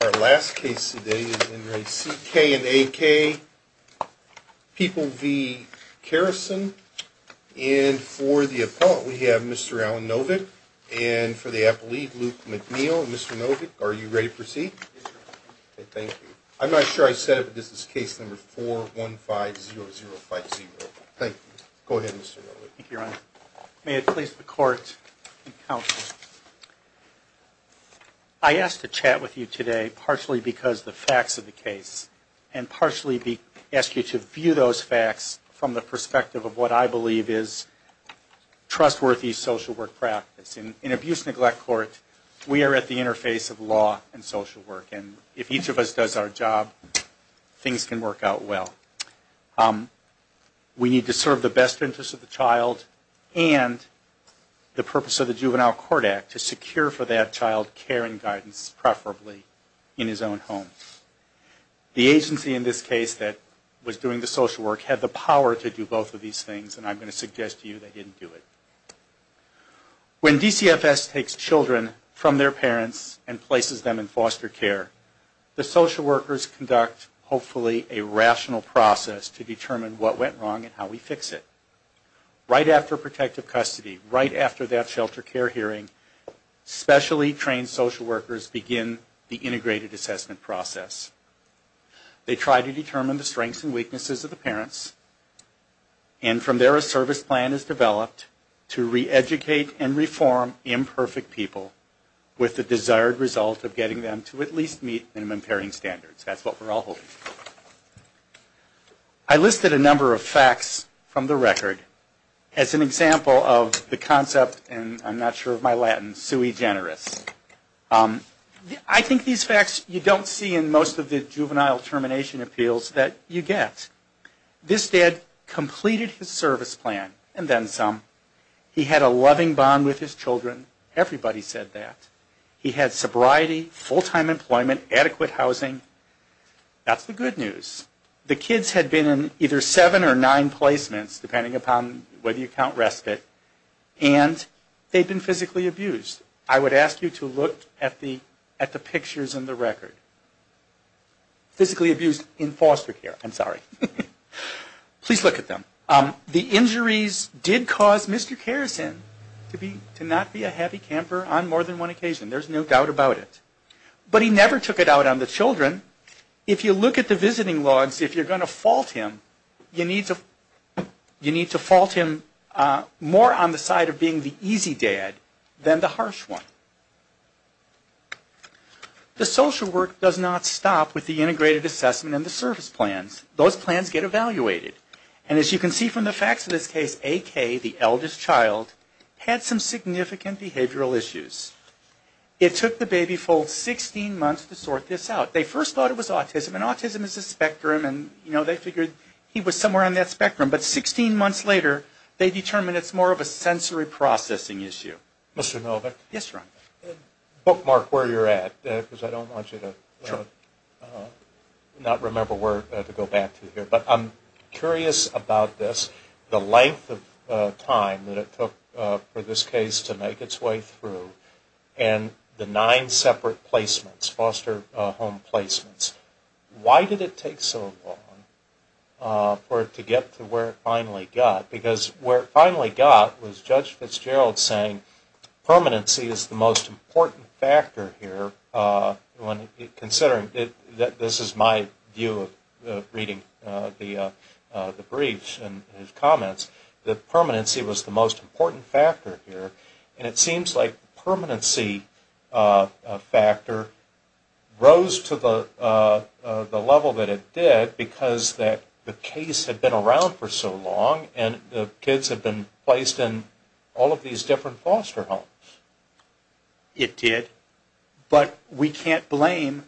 and A.K., People v. Kerrison, and for the appellate, we have Mr. Alan Novick, and for the appellate, Luke McNeil. Mr. Novick, are you ready to proceed? Yes, Your Honor. Okay, thank you. I'm not sure I said it, but this is case number 4150050. Thank you. Go ahead, Mr. Novick. Thank you, Your Honor. May it please the Court and Counsel. I asked to chat with you today partially because the facts of the case, and partially ask you to view those facts from the perspective of what I believe is trustworthy social work practice. In an abuse-neglect court, we are at the interface of law and social work, and if each of us does our job, things can work out well. We need to serve the best interest of the child and the purpose of the Juvenile Court Act to secure for that child care and guidance, preferably in his own home. The agency in this case that was doing the social work had the power to do both of these things, and I'm going to suggest to you they didn't do it. When DCFS takes children from their parents and places them in foster care, the social workers begin the assessment process to determine what went wrong and how we fix it. Right after protective custody, right after that shelter care hearing, specially trained social workers begin the integrated assessment process. They try to determine the strengths and weaknesses of the parents, and from there a service plan is developed to re-educate and reform imperfect people with the desired result of getting them to at least meet minimum parenting standards. So that's what we're all holding. I listed a number of facts from the record as an example of the concept, and I'm not sure of my Latin, sui generis. I think these facts you don't see in most of the juvenile termination appeals that you get. This dad completed his service plan, and then some. He had a loving bond with his children, everybody said that. He had sobriety, full-time employment, adequate housing. That's the good news. The kids had been in either seven or nine placements, depending upon whether you count respite, and they'd been physically abused. I would ask you to look at the pictures in the record. Physically abused in foster care, I'm sorry. Please look at them. The injuries did cause Mr. Kerrison to not be a happy camper on more than one occasion. There's no doubt about it. But he never took it out on the children. If you look at the visiting logs, if you're going to fault him, you need to fault him more on the side of being the easy dad than the harsh one. The social work does not stop with the integrated assessment and the service plans. Those plans get evaluated. As you can see from the facts of this case, AK, the eldest child, had some significant behavioral issues. It took the baby folks 16 months to sort this out. They first thought it was autism, and autism is a spectrum, and they figured he was somewhere on that spectrum. But 16 months later, they determined it's more of a sensory processing issue. Mr. Novick? Yes, Ron. Bookmark where you're at, because I don't want you to not remember where to go back to here. But I'm curious about this, the length of time that it took for this case to make its way through, and the nine separate placements, foster home placements. Why did it take so long for it to get to where it finally got? Because where it finally got was Judge Fitzgerald saying permanency is the most important factor here, considering that this is my view of reading the briefs and his comments, that permanency was the most important factor here. It seems like the permanency factor rose to the level that it did because the case had been around for so long, and the kids had been placed in all of these different foster homes. It did. But we can't blame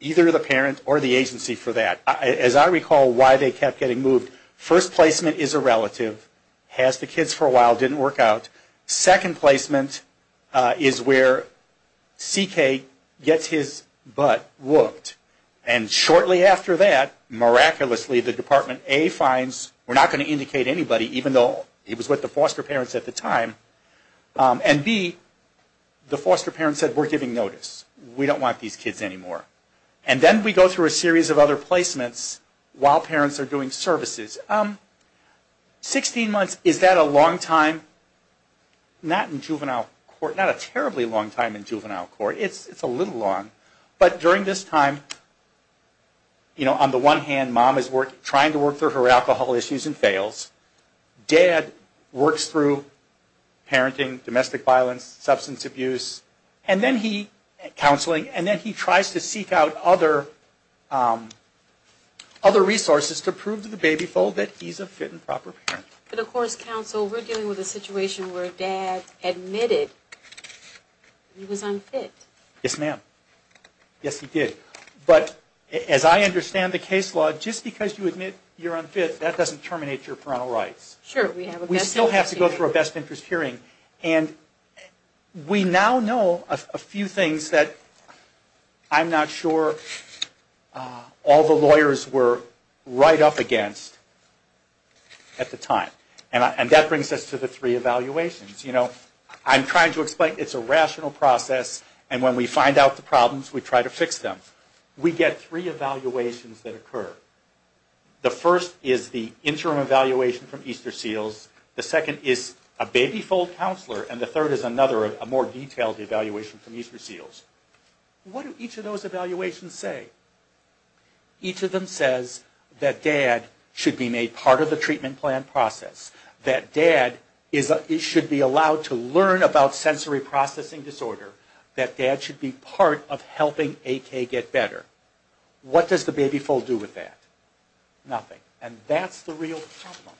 either the parent or the agency for that. As I recall why they kept getting moved, first placement is a relative, has the kids for a while, didn't work out. Second placement is where CK gets his butt whooped. And shortly after that, miraculously, the Department A finds, we're not going to indicate anybody, even though it was with the foster parents at the time, and B, the foster parents said we're giving notice, we don't want these kids anymore. And then we go through a series of other placements while parents are doing services. 16 months, is that a long time? Not in juvenile court, not a terribly long time in juvenile court, it's a little long, but during this time, you know, on the one hand, mom is trying to work through her alcohol issues and fails. Dad works through parenting, domestic violence, substance abuse, and then he, counseling, and then he tries to seek out other resources to prove to the baby foal that he's a fit and proper parent. But of course, counsel, we're dealing with a situation where dad admitted he was unfit. Yes, ma'am. Yes, he did. But as I understand the case law, just because you admit you're unfit, that doesn't terminate your parental rights. Sure, we have a best interest hearing. We still have to go through a best interest hearing, and we now know a few things that I'm not sure all the lawyers were right up against at the time. And that brings us to the three evaluations. You know, I'm trying to explain, it's a rational process, and when we find out the problems, we try to fix them. We get three evaluations that occur. The first is the interim evaluation from Easter Seals. The second is a baby foal counselor, and the third is another, a more detailed evaluation from Easter Seals. What do each of those evaluations say? Each of them says that dad should be made part of the treatment plan process, that dad is, should be allowed to learn about sensory processing disorder, that dad should be part of helping AK get better. What does the baby foal do with that? Nothing. And that's the real problem.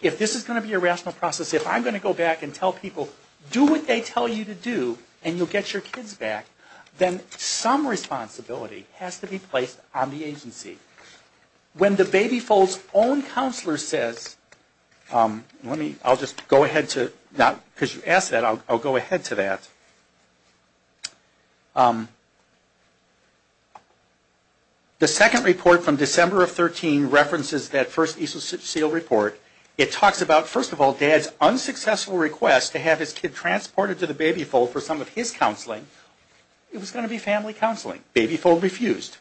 If this is going to be a rational process, if I'm going to go back and tell people, do what they tell you to do, and you'll get your kids back, then some responsibility has to be placed on the agency. When the baby foal's own counselor says, let me, I'll just go ahead to, because you asked that, I'll go ahead to that. The second report from December of 13 references that first Easter Seal report. It talks about, first of all, dad's unsuccessful request to have his kid transported to the baby foal for some of his counseling, it was going to be family counseling. Baby foal refused.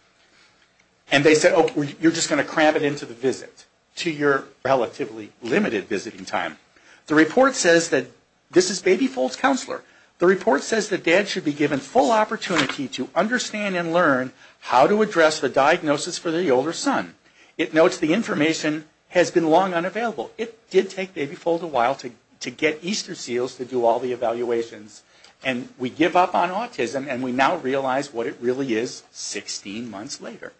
And they said, okay, you're just going to cram it into the visit, to your relatively limited visiting time. The report says that, this is baby foal's counselor, the report says that dad should be given full opportunity to understand and learn how to address the diagnosis for the older son. It notes the information has been long unavailable. It did take baby foal a while to get Easter Seals to do all the evaluations, and we give up on autism, and we now realize what it really is 16 months later.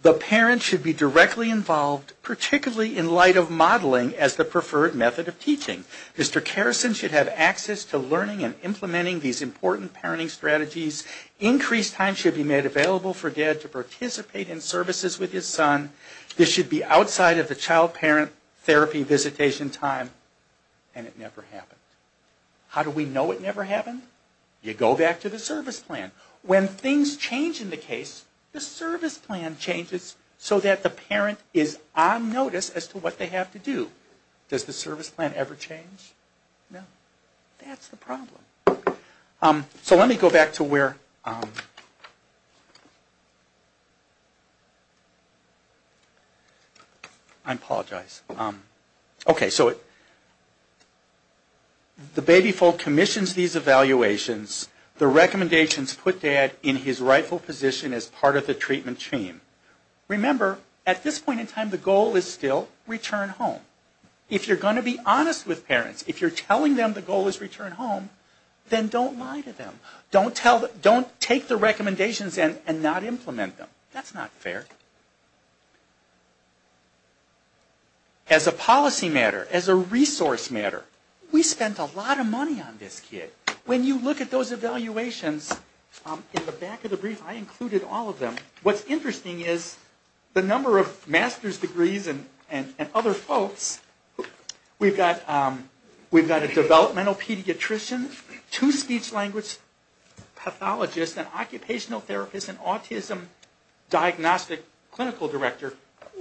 The parent should be directly involved, particularly in light of modeling as the preferred method of teaching. Mr. Karrison should have access to learning and implementing these important parenting strategies. Increased time should be made available for dad to participate in services with his son. This should be outside of the child parent therapy visitation time, and it never happened. How do we know it never happened? You go back to the service plan. When things change in the case, the service plan changes so that the parent is on notice as to what they have to do. Does the service plan ever change? No. That's the problem. So let me go back to where, I apologize, okay, so the baby foal commissions these evaluations, the recommendations put dad in his rightful position as part of the treatment team. Remember at this point in time the goal is still return home. If you're going to be honest with parents, if you're telling them the goal is return home, then don't lie to them. Don't tell them, don't take the recommendations and not implement them. That's not fair. As a policy matter, as a resource matter, we spent a lot of money on this kid. When you look at those evaluations, in the back of the brief I included all of them. What's interesting is the number of master's degrees and other folks, we've got a developmental pediatrician, two speech language pathologists, an occupational therapist, an autism diagnostic clinical director.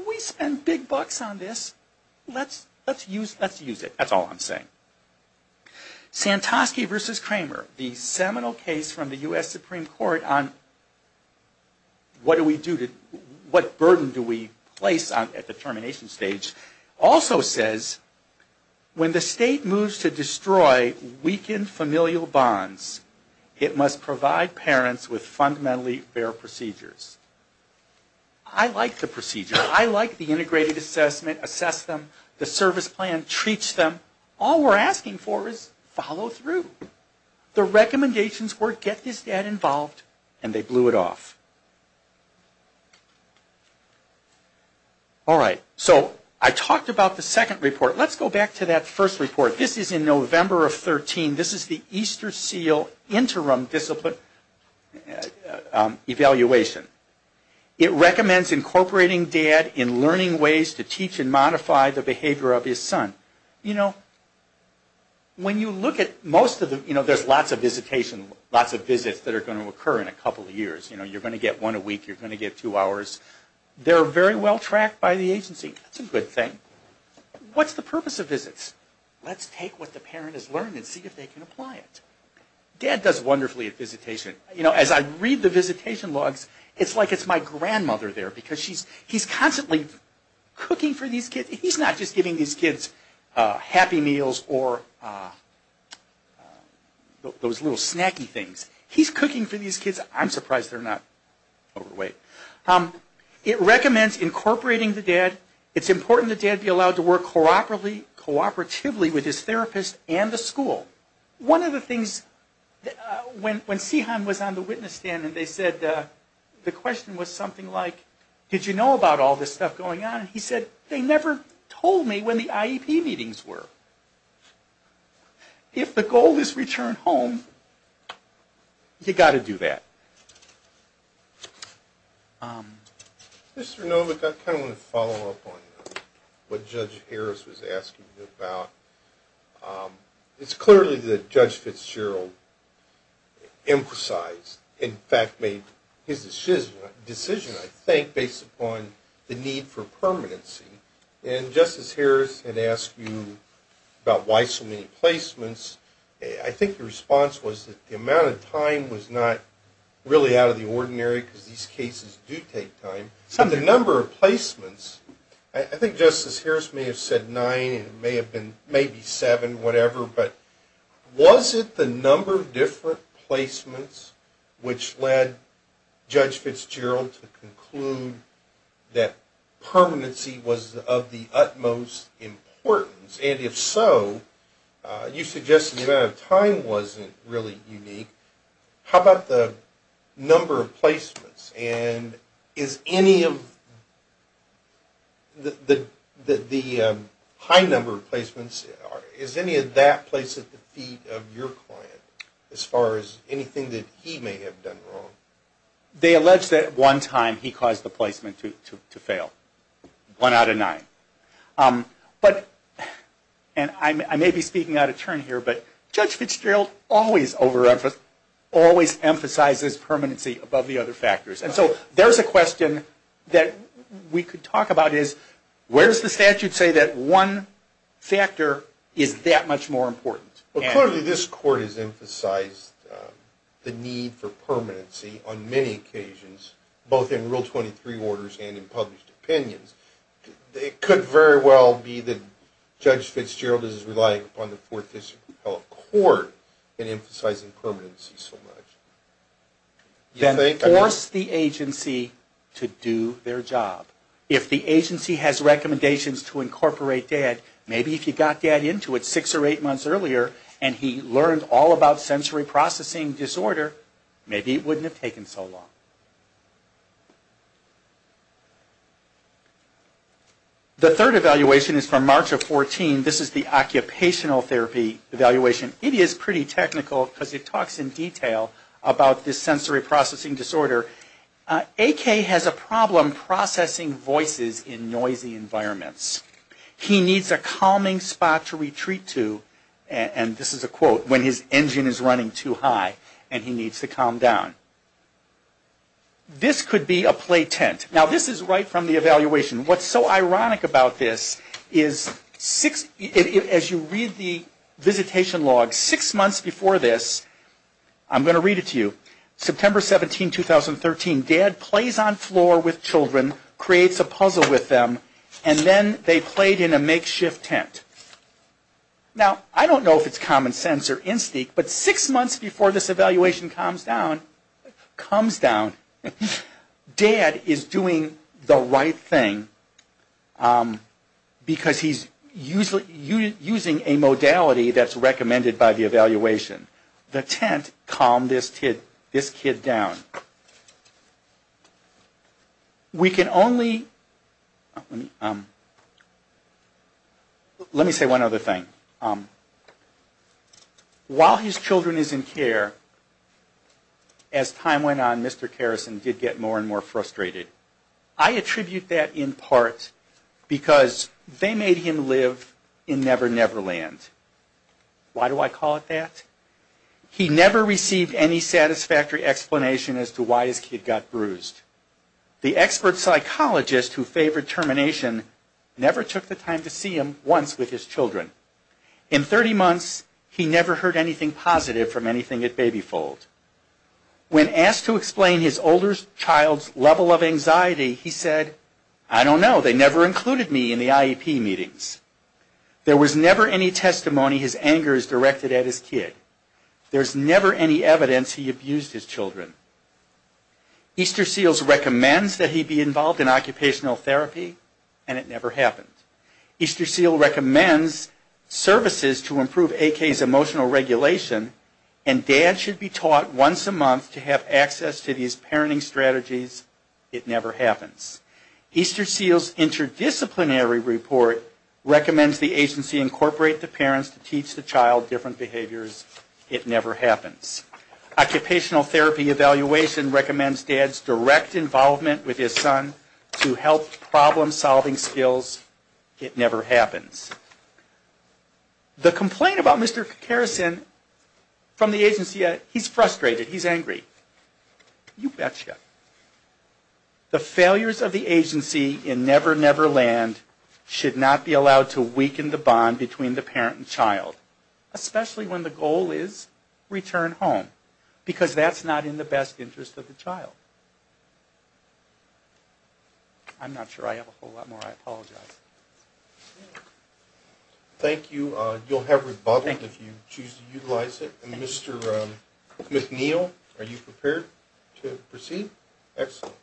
We spent big bucks on this. Let's use it. That's all I'm saying. Santosky v. Kramer, the seminal case from the U.S. Supreme Court on what do we do, what burden do we place at the termination stage, also says when the state moves to destroy weakened familial bonds, it must provide parents with fundamentally fair procedures. I like the procedure. I like the integrated assessment, assess them, the service plan, treat them. All we're asking for is follow through. The recommendations were get this dad involved and they blew it off. All right, so I talked about the second report. Let's go back to that first report. This is in November of 13. This is the Easterseal Interim Discipline Evaluation. It recommends incorporating dad in learning ways to teach and modify the behavior of his son. You know, when you look at most of the, you know, there's lots of visitation, lots of visits that are going to occur in a couple of years. You know, you're going to get one a week, you're going to get two hours. They're very well tracked by the agency. That's a good thing. What's the purpose of visits? Let's take what the parent has learned and see if they can apply it. Dad does wonderfully at visitation. You know, as I read the visitation logs, it's like it's my grandmother there because he's constantly cooking for these kids. He's not just giving these kids happy meals or those little snacky things. He's cooking for these kids. I'm surprised they're not overweight. It recommends incorporating the dad. It's important the dad be allowed to work cooperatively with his therapist and the school. One of the things, when Sihan was on the witness stand and they said, the question was something like did you know about all this stuff going on? He said, they never told me when the IEP meetings were. If the goal is return home, you've got to do that. Mr. Novick, I kind of want to follow up on what Judge Harris was asking you about. It's clearly that Judge Fitzgerald emphasized, in fact, made his decision, I think, based upon the need for permanency. And Justice Harris had asked you about why so many placements. I think the response was that the amount of time was not really out of the ordinary because these cases do take time. But the number of placements, I think Justice Harris may have said nine and it may have been maybe seven, whatever, but was it the number of different placements which led Judge Fitzgerald to conclude that permanency was of the utmost importance? And if so, you suggested the amount of time wasn't really unique. How about the number of placements? And is any of the high number of placements, is any of that placed at the feet of your client as far as anything that he may have done wrong? They allege that at one time he caused the placement to fail, one out of nine. And I may be speaking out of turn here, but Judge Fitzgerald always emphasizes permanency above the other factors. And so there's a question that we could talk about is, where does the statute say that one factor is that much more important? Well, clearly this Court has emphasized the need for permanency on many occasions, both in Rule 23 orders and in published opinions. It could very well be that Judge Fitzgerald is relying upon the Fourth District Court in emphasizing permanency so much. Then force the agency to do their job. If the agency has recommendations to incorporate dad, maybe if you got dad into it six or eight months earlier and he learned all about sensory processing disorder, maybe it wouldn't have taken so long. The third evaluation is from March of 2014. This is the occupational therapy evaluation. It is pretty technical because it talks in detail about this sensory processing disorder. AK has a problem processing voices in noisy environments. He needs a calming spot to retreat to, and this is a quote, when his engine is running too high and he needs to calm down. This could be a play tent. Now this is right from the evaluation. What's so ironic about this is, as you read the visitation log, six months before this, I'm going to read it to you, September 17, 2013, dad plays on floor with children, creates a puzzle with them, and then they played in a makeshift tent. Now I don't know if it's common sense or instinct, but six months before this evaluation calms down, dad is doing the right thing because he's using a modality that's recommended by the evaluation. The tent calmed this kid down. Now, we can only, let me say one other thing. While his children is in care, as time went on, Mr. Kerrison did get more and more frustrated. I attribute that in part because they made him live in never never land. Why do I call it that? He never received any satisfactory explanation as to why his kid got bruised. The expert psychologist who favored termination never took the time to see him once with his children. In 30 months, he never heard anything positive from anything at BabyFold. When asked to explain his older child's level of anxiety, he said, I don't know, they never included me in the IEP meetings. There was never any testimony his anger is directed at his kid. There's never any evidence he abused his children. Easter Seals recommends that he be involved in occupational therapy, and it never happened. Easter Seals recommends services to improve AK's emotional regulation, and dad should be taught once a month to have access to these parenting strategies. It never happens. Easter Seals' interdisciplinary report recommends the agency incorporate the parents to teach the child different behaviors. It never happens. Occupational therapy evaluation recommends dad's direct involvement with his son to help problem-solving skills. It never happens. The complaint about Mr. Kerrison from the agency, he's frustrated, he's angry. You betcha. The failures of the agency in Never Never Land should not be allowed to weaken the bond between the parent and child, especially when the goal is return home, because that's not in the best interest of the child. I'm not sure I have a whole lot more, I apologize. Thank you. You'll have rebuttal if you choose to utilize it. Mr. McNeil, are you prepared to proceed? Excellent.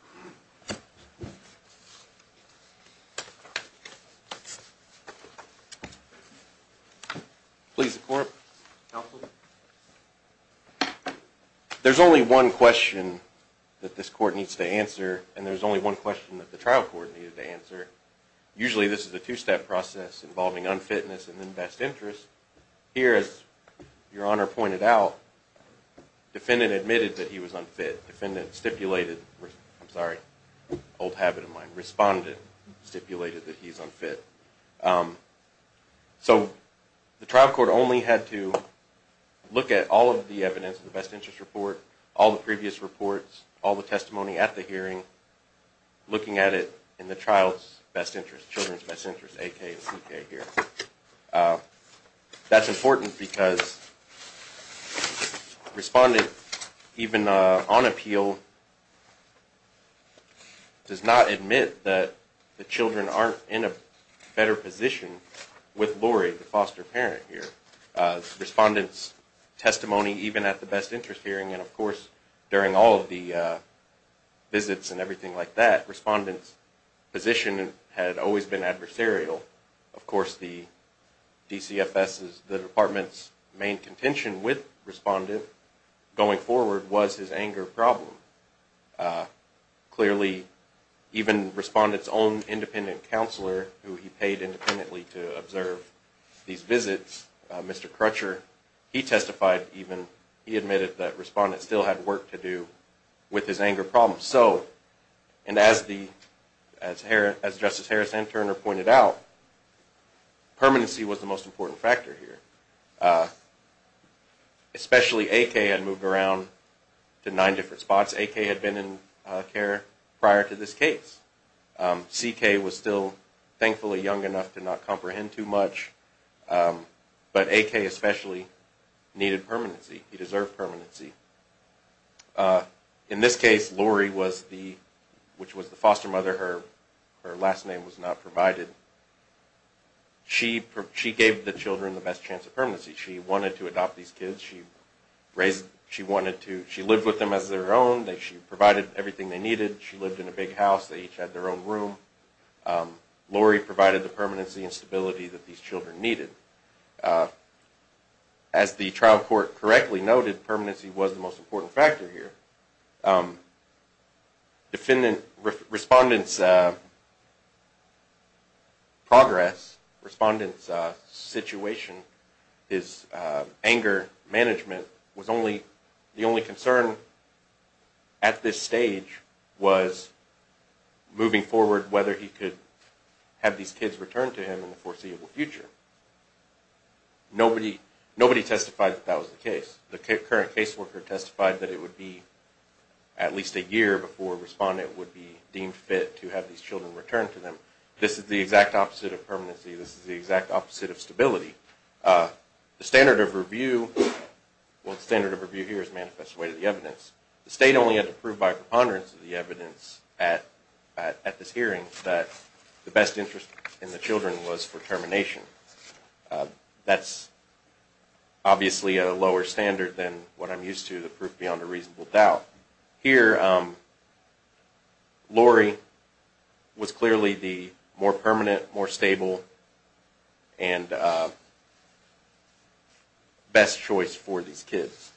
Please, the court. Help me. There's only one question that this court needs to answer, and there's only one question that the trial court needed to answer. Usually this is a two-step process involving unfitness and then best interest. Here, as Your Honor pointed out, defendant admitted that he was unfit. Defendant stipulated, I'm sorry, old habit of mine, respondent stipulated that he's unfit. So the trial court only had to look at all of the evidence, the best interest report, all the previous reports, all the testimony at the hearing, looking at it in the child's best interest, A.K. and C.K. here. That's important because respondent, even on appeal, does not admit that the children aren't in a better position with Lori, the foster parent here. Respondent's testimony, even at the best interest hearing, and of course during all of the visits and everything like that, respondent's position had always been adversarial. Of course the DCFS, the department's main contention with respondent, going forward, was his anger problem. Clearly, even respondent's own independent counselor, who he paid independently to observe these visits, Mr. Crutcher, he testified even, he admitted that respondent still had work to do with his anger problem. So, and as Justice Harris and Turner pointed out, permanency was the most important factor here. Especially A.K. had moved around to nine different spots. A.K. had been in care prior to this case. C.K. was still thankfully young enough to not comprehend too much, but A.K. especially needed permanency. He deserved permanency. In this case, Lori was the, which was the foster mother, her last name was not provided. She gave the children the best chance of permanency. She wanted to adopt these kids. She raised, she wanted to, she lived with them as their own. She provided everything they needed. She lived in a big house. They each had their own room. Lori provided the permanency and stability that these children needed. As the trial court correctly noted, permanency was the most important factor here. Defendant, respondent's progress, respondent's situation, his anger management was only, the only concern at this stage was moving forward, whether he could have these kids returned to him in the foreseeable future. Nobody testified that that was the case. The current caseworker testified that it would be at least a year before a respondent would be deemed fit to have these children returned to them. This is the exact opposite of permanency. This is the exact opposite of stability. The standard of review, well the standard of review here is manifest way to the evidence. The state only had to prove by preponderance of the evidence at this hearing that the best interest in the children was for termination. That's obviously a lower standard than what I'm used to to prove beyond a reasonable doubt. Here, Lori was clearly the more permanent, more stable, and best choice for these kids.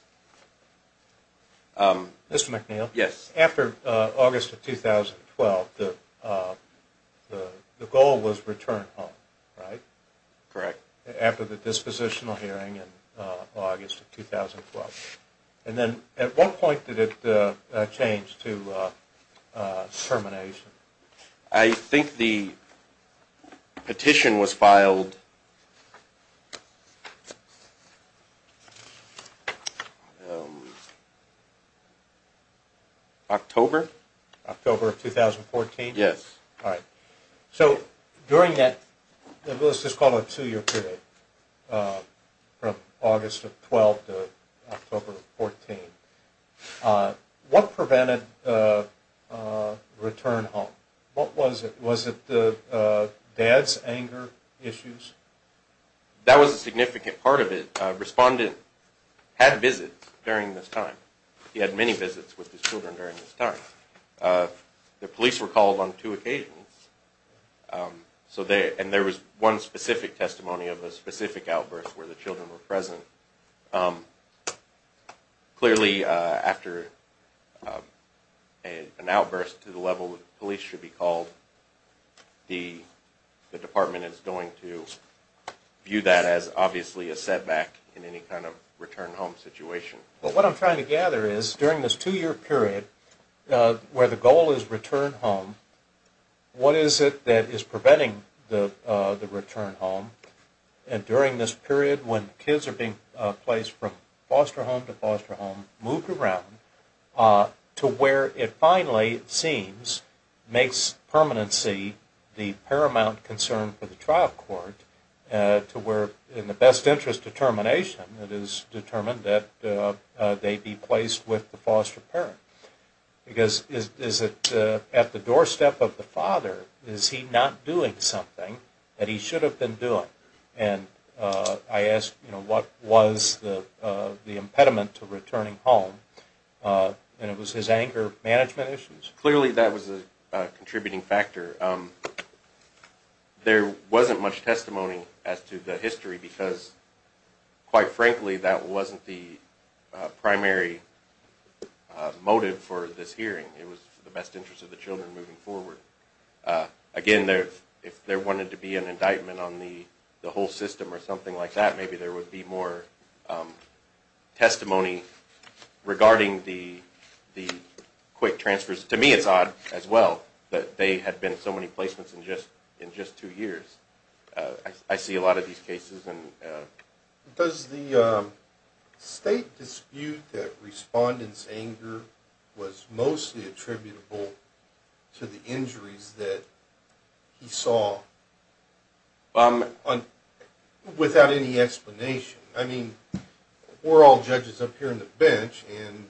Mr. McNeil? Yes. After August of 2012, the goal was return home, right? Correct. After the dispositional hearing in August of 2012. And then at what point did it change to termination? I think the petition was filed October? October of 2014? Yes. All right. So during that, let's just call it a two-year period, from August of 2012 to October of 2014. What prevented return home? What was it? Was it dad's anger issues? That was a significant part of it. Respondent had visits during this time. He had many visits with his children during this time. The police were called on two occasions. And there was one specific testimony of a specific outburst where the children were present. Clearly, after an outburst to the level the police should be called, the department is going to view that as obviously a setback in any kind of return home situation. Well, what I'm trying to gather is during this two-year period where the goal is return home, what is it that is preventing the return home? During this period when kids are being placed from foster home to foster home, moved around to where it finally seems makes permanency the paramount concern for the trial court to where, in the best interest of termination, it is determined that they be placed with the foster parent. At the doorstep of the father, is he not doing something that he should have been doing? And I ask, what was the impediment to returning home? And it was his anger management issues. Clearly, that was a contributing factor. There wasn't much testimony as to the history because, quite frankly, that wasn't the primary motive for this hearing. It was for the best interest of the children moving forward. Again, if there wanted to be an indictment on the whole system or something like that, maybe there would be more testimony regarding the quick transfers. To me, it's odd as well that there had been so many placements in just two years. I see a lot of these cases. Does the state dispute that respondent's anger was mostly attributable to the injuries that he saw without any explanation? I mean, we're all judges up here on the bench, and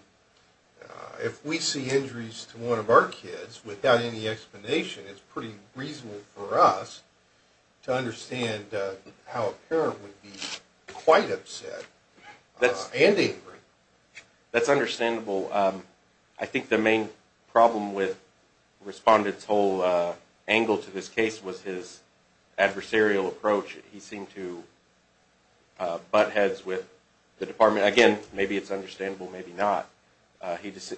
if we see injuries to one of our kids without any explanation, it's pretty reasonable for us to understand how a parent would be quite upset and angry. That's understandable. I think the main problem with the respondent's whole angle to this case was his adversarial approach. He seemed to butt heads with the department. Again, maybe it's understandable, maybe not.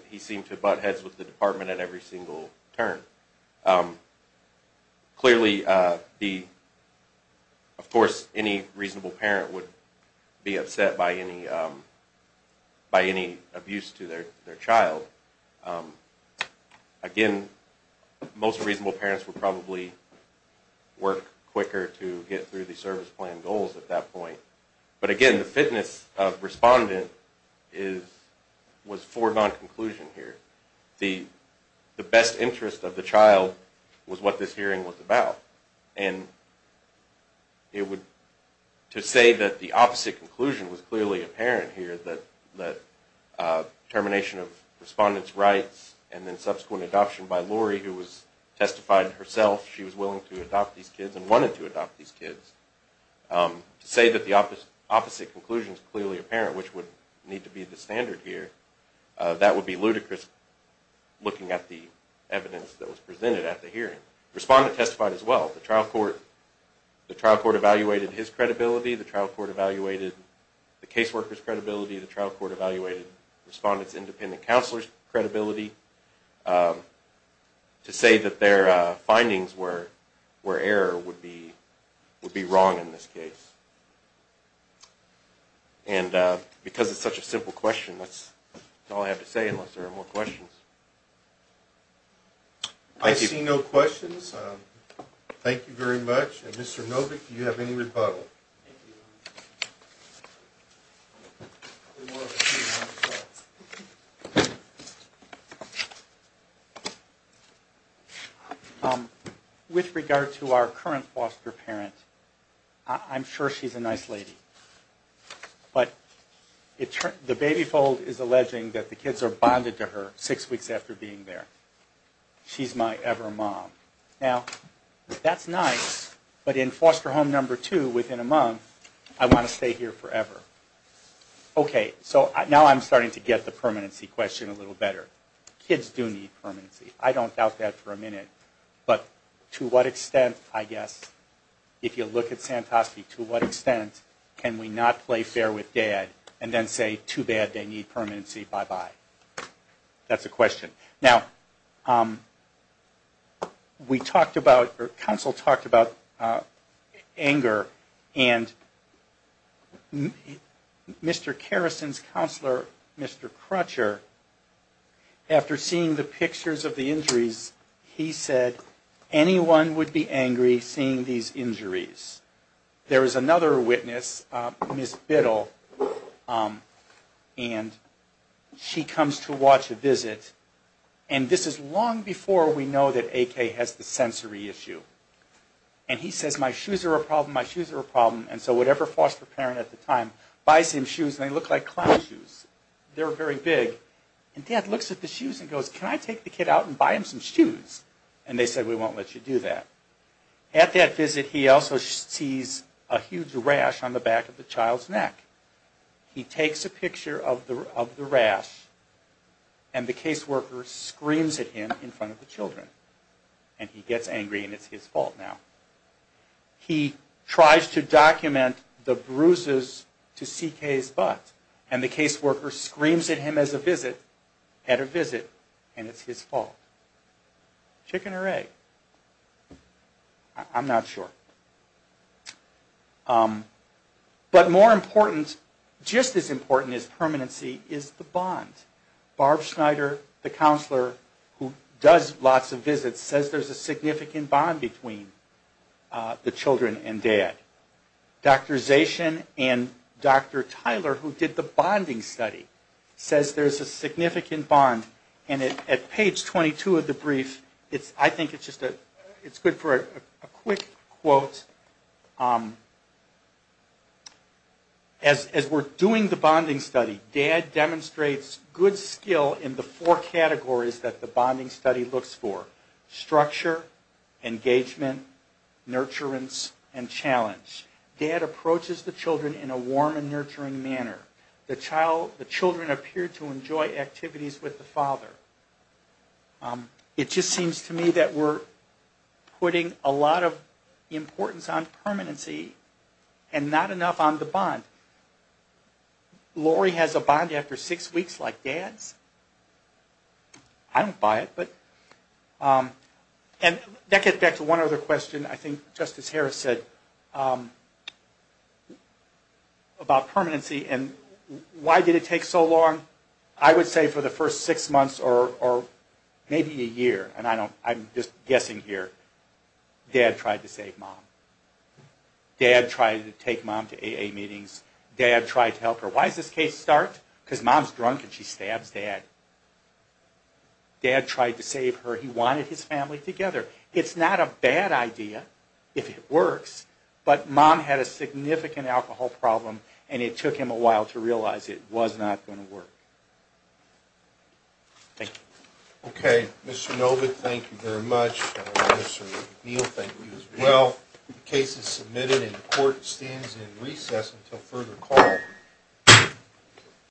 He seemed to butt heads with the department at every single turn. Clearly, of course, any reasonable parent would be upset by any abuse to their child. Again, most reasonable parents would probably work quicker to get through the service plan goals at that point. But again, the fitness of respondent was foregone conclusion here. The best interest of the child was what this hearing was about. And to say that the opposite conclusion was clearly apparent here, that termination of respondent's rights and then subsequent adoption by Lori, who testified herself she was willing to adopt these kids and wanted to adopt these kids, to say that the opposite conclusion is clearly apparent, which would need to be the standard here, that would be ludicrous looking at the evidence that was presented at the hearing. Respondent testified as well. The trial court evaluated his credibility. The trial court evaluated the caseworker's credibility. To say that their findings were error would be wrong in this case. And because it's such a simple question, that's all I have to say unless there are more questions. I see no questions. Thank you very much. And Mr. Novick, do you have any rebuttal? Thank you. With regard to our current foster parent, I'm sure she's a nice lady. But the baby fold is alleging that the kids are bonded to her six weeks after being there. She's my ever mom. Now, that's nice, but in foster home number two, within a month, I want to stay here forever. Okay, so now I'm starting to get the permanency question a little better. Kids do need permanency. I don't doubt that for a minute. But to what extent, I guess, if you look at Santoski, to what extent can we not play fair with dad and then say, too bad, they need permanency, bye-bye? That's the question. Now, we talked about, or counsel talked about anger. And Mr. Kerrison's counselor, Mr. Crutcher, after seeing the pictures of the injuries, he said anyone would be angry seeing these injuries. There is another witness, Miss Biddle, and she comes to watch a visit. And this is long before we know that AK has the sensory issue. And he says, my shoes are a problem, my shoes are a problem. And so whatever foster parent at the time buys him shoes, and they look like clown shoes. They're very big. And dad looks at the shoes and goes, can I take the kid out and buy him some shoes? And they said, we won't let you do that. At that visit, he also sees a huge rash on the back of the child's neck. He takes a picture of the rash, and the caseworker screams at him in front of the children. And he gets angry, and it's his fault now. He tries to document the bruises to CK's butt, and the caseworker screams at him as a visit, at a visit, and it's his fault. Chicken or egg? I'm not sure. But more important, just as important as permanency, is the bond. Barb Schneider, the counselor who does lots of visits, says there's a significant bond between the children and dad. Dr. Zayschen and Dr. Tyler, who did the bonding study, says there's a significant bond. And at page 22 of the brief, I think it's good for a quick quote. As we're doing the bonding study, dad demonstrates good skill in the four categories that the bonding study looks for. Structure, engagement, nurturance, and challenge. Dad approaches the children in a warm and nurturing manner. The children appear to enjoy activities with the father. It just seems to me that we're putting a lot of importance on permanency, and not enough on the bond. Lori has a bond after six weeks like dad's? I don't buy it. And that gets back to one other question. I think Justice Harris said about permanency, and why did it take so long? I would say for the first six months or maybe a year, and I'm just guessing here. Dad tried to save mom. Dad tried to take mom to AA meetings. Dad tried to help her. Why does this case start? Because mom's drunk and she stabs dad. Dad tried to save her. He wanted his family together. It's not a bad idea if it works, but mom had a significant alcohol problem, and it took him a while to realize it was not going to work. Thank you. Okay. Mr. Novick, thank you very much. Mr. McNeil, thank you as well. The case is submitted, and the court stands in recess until further call.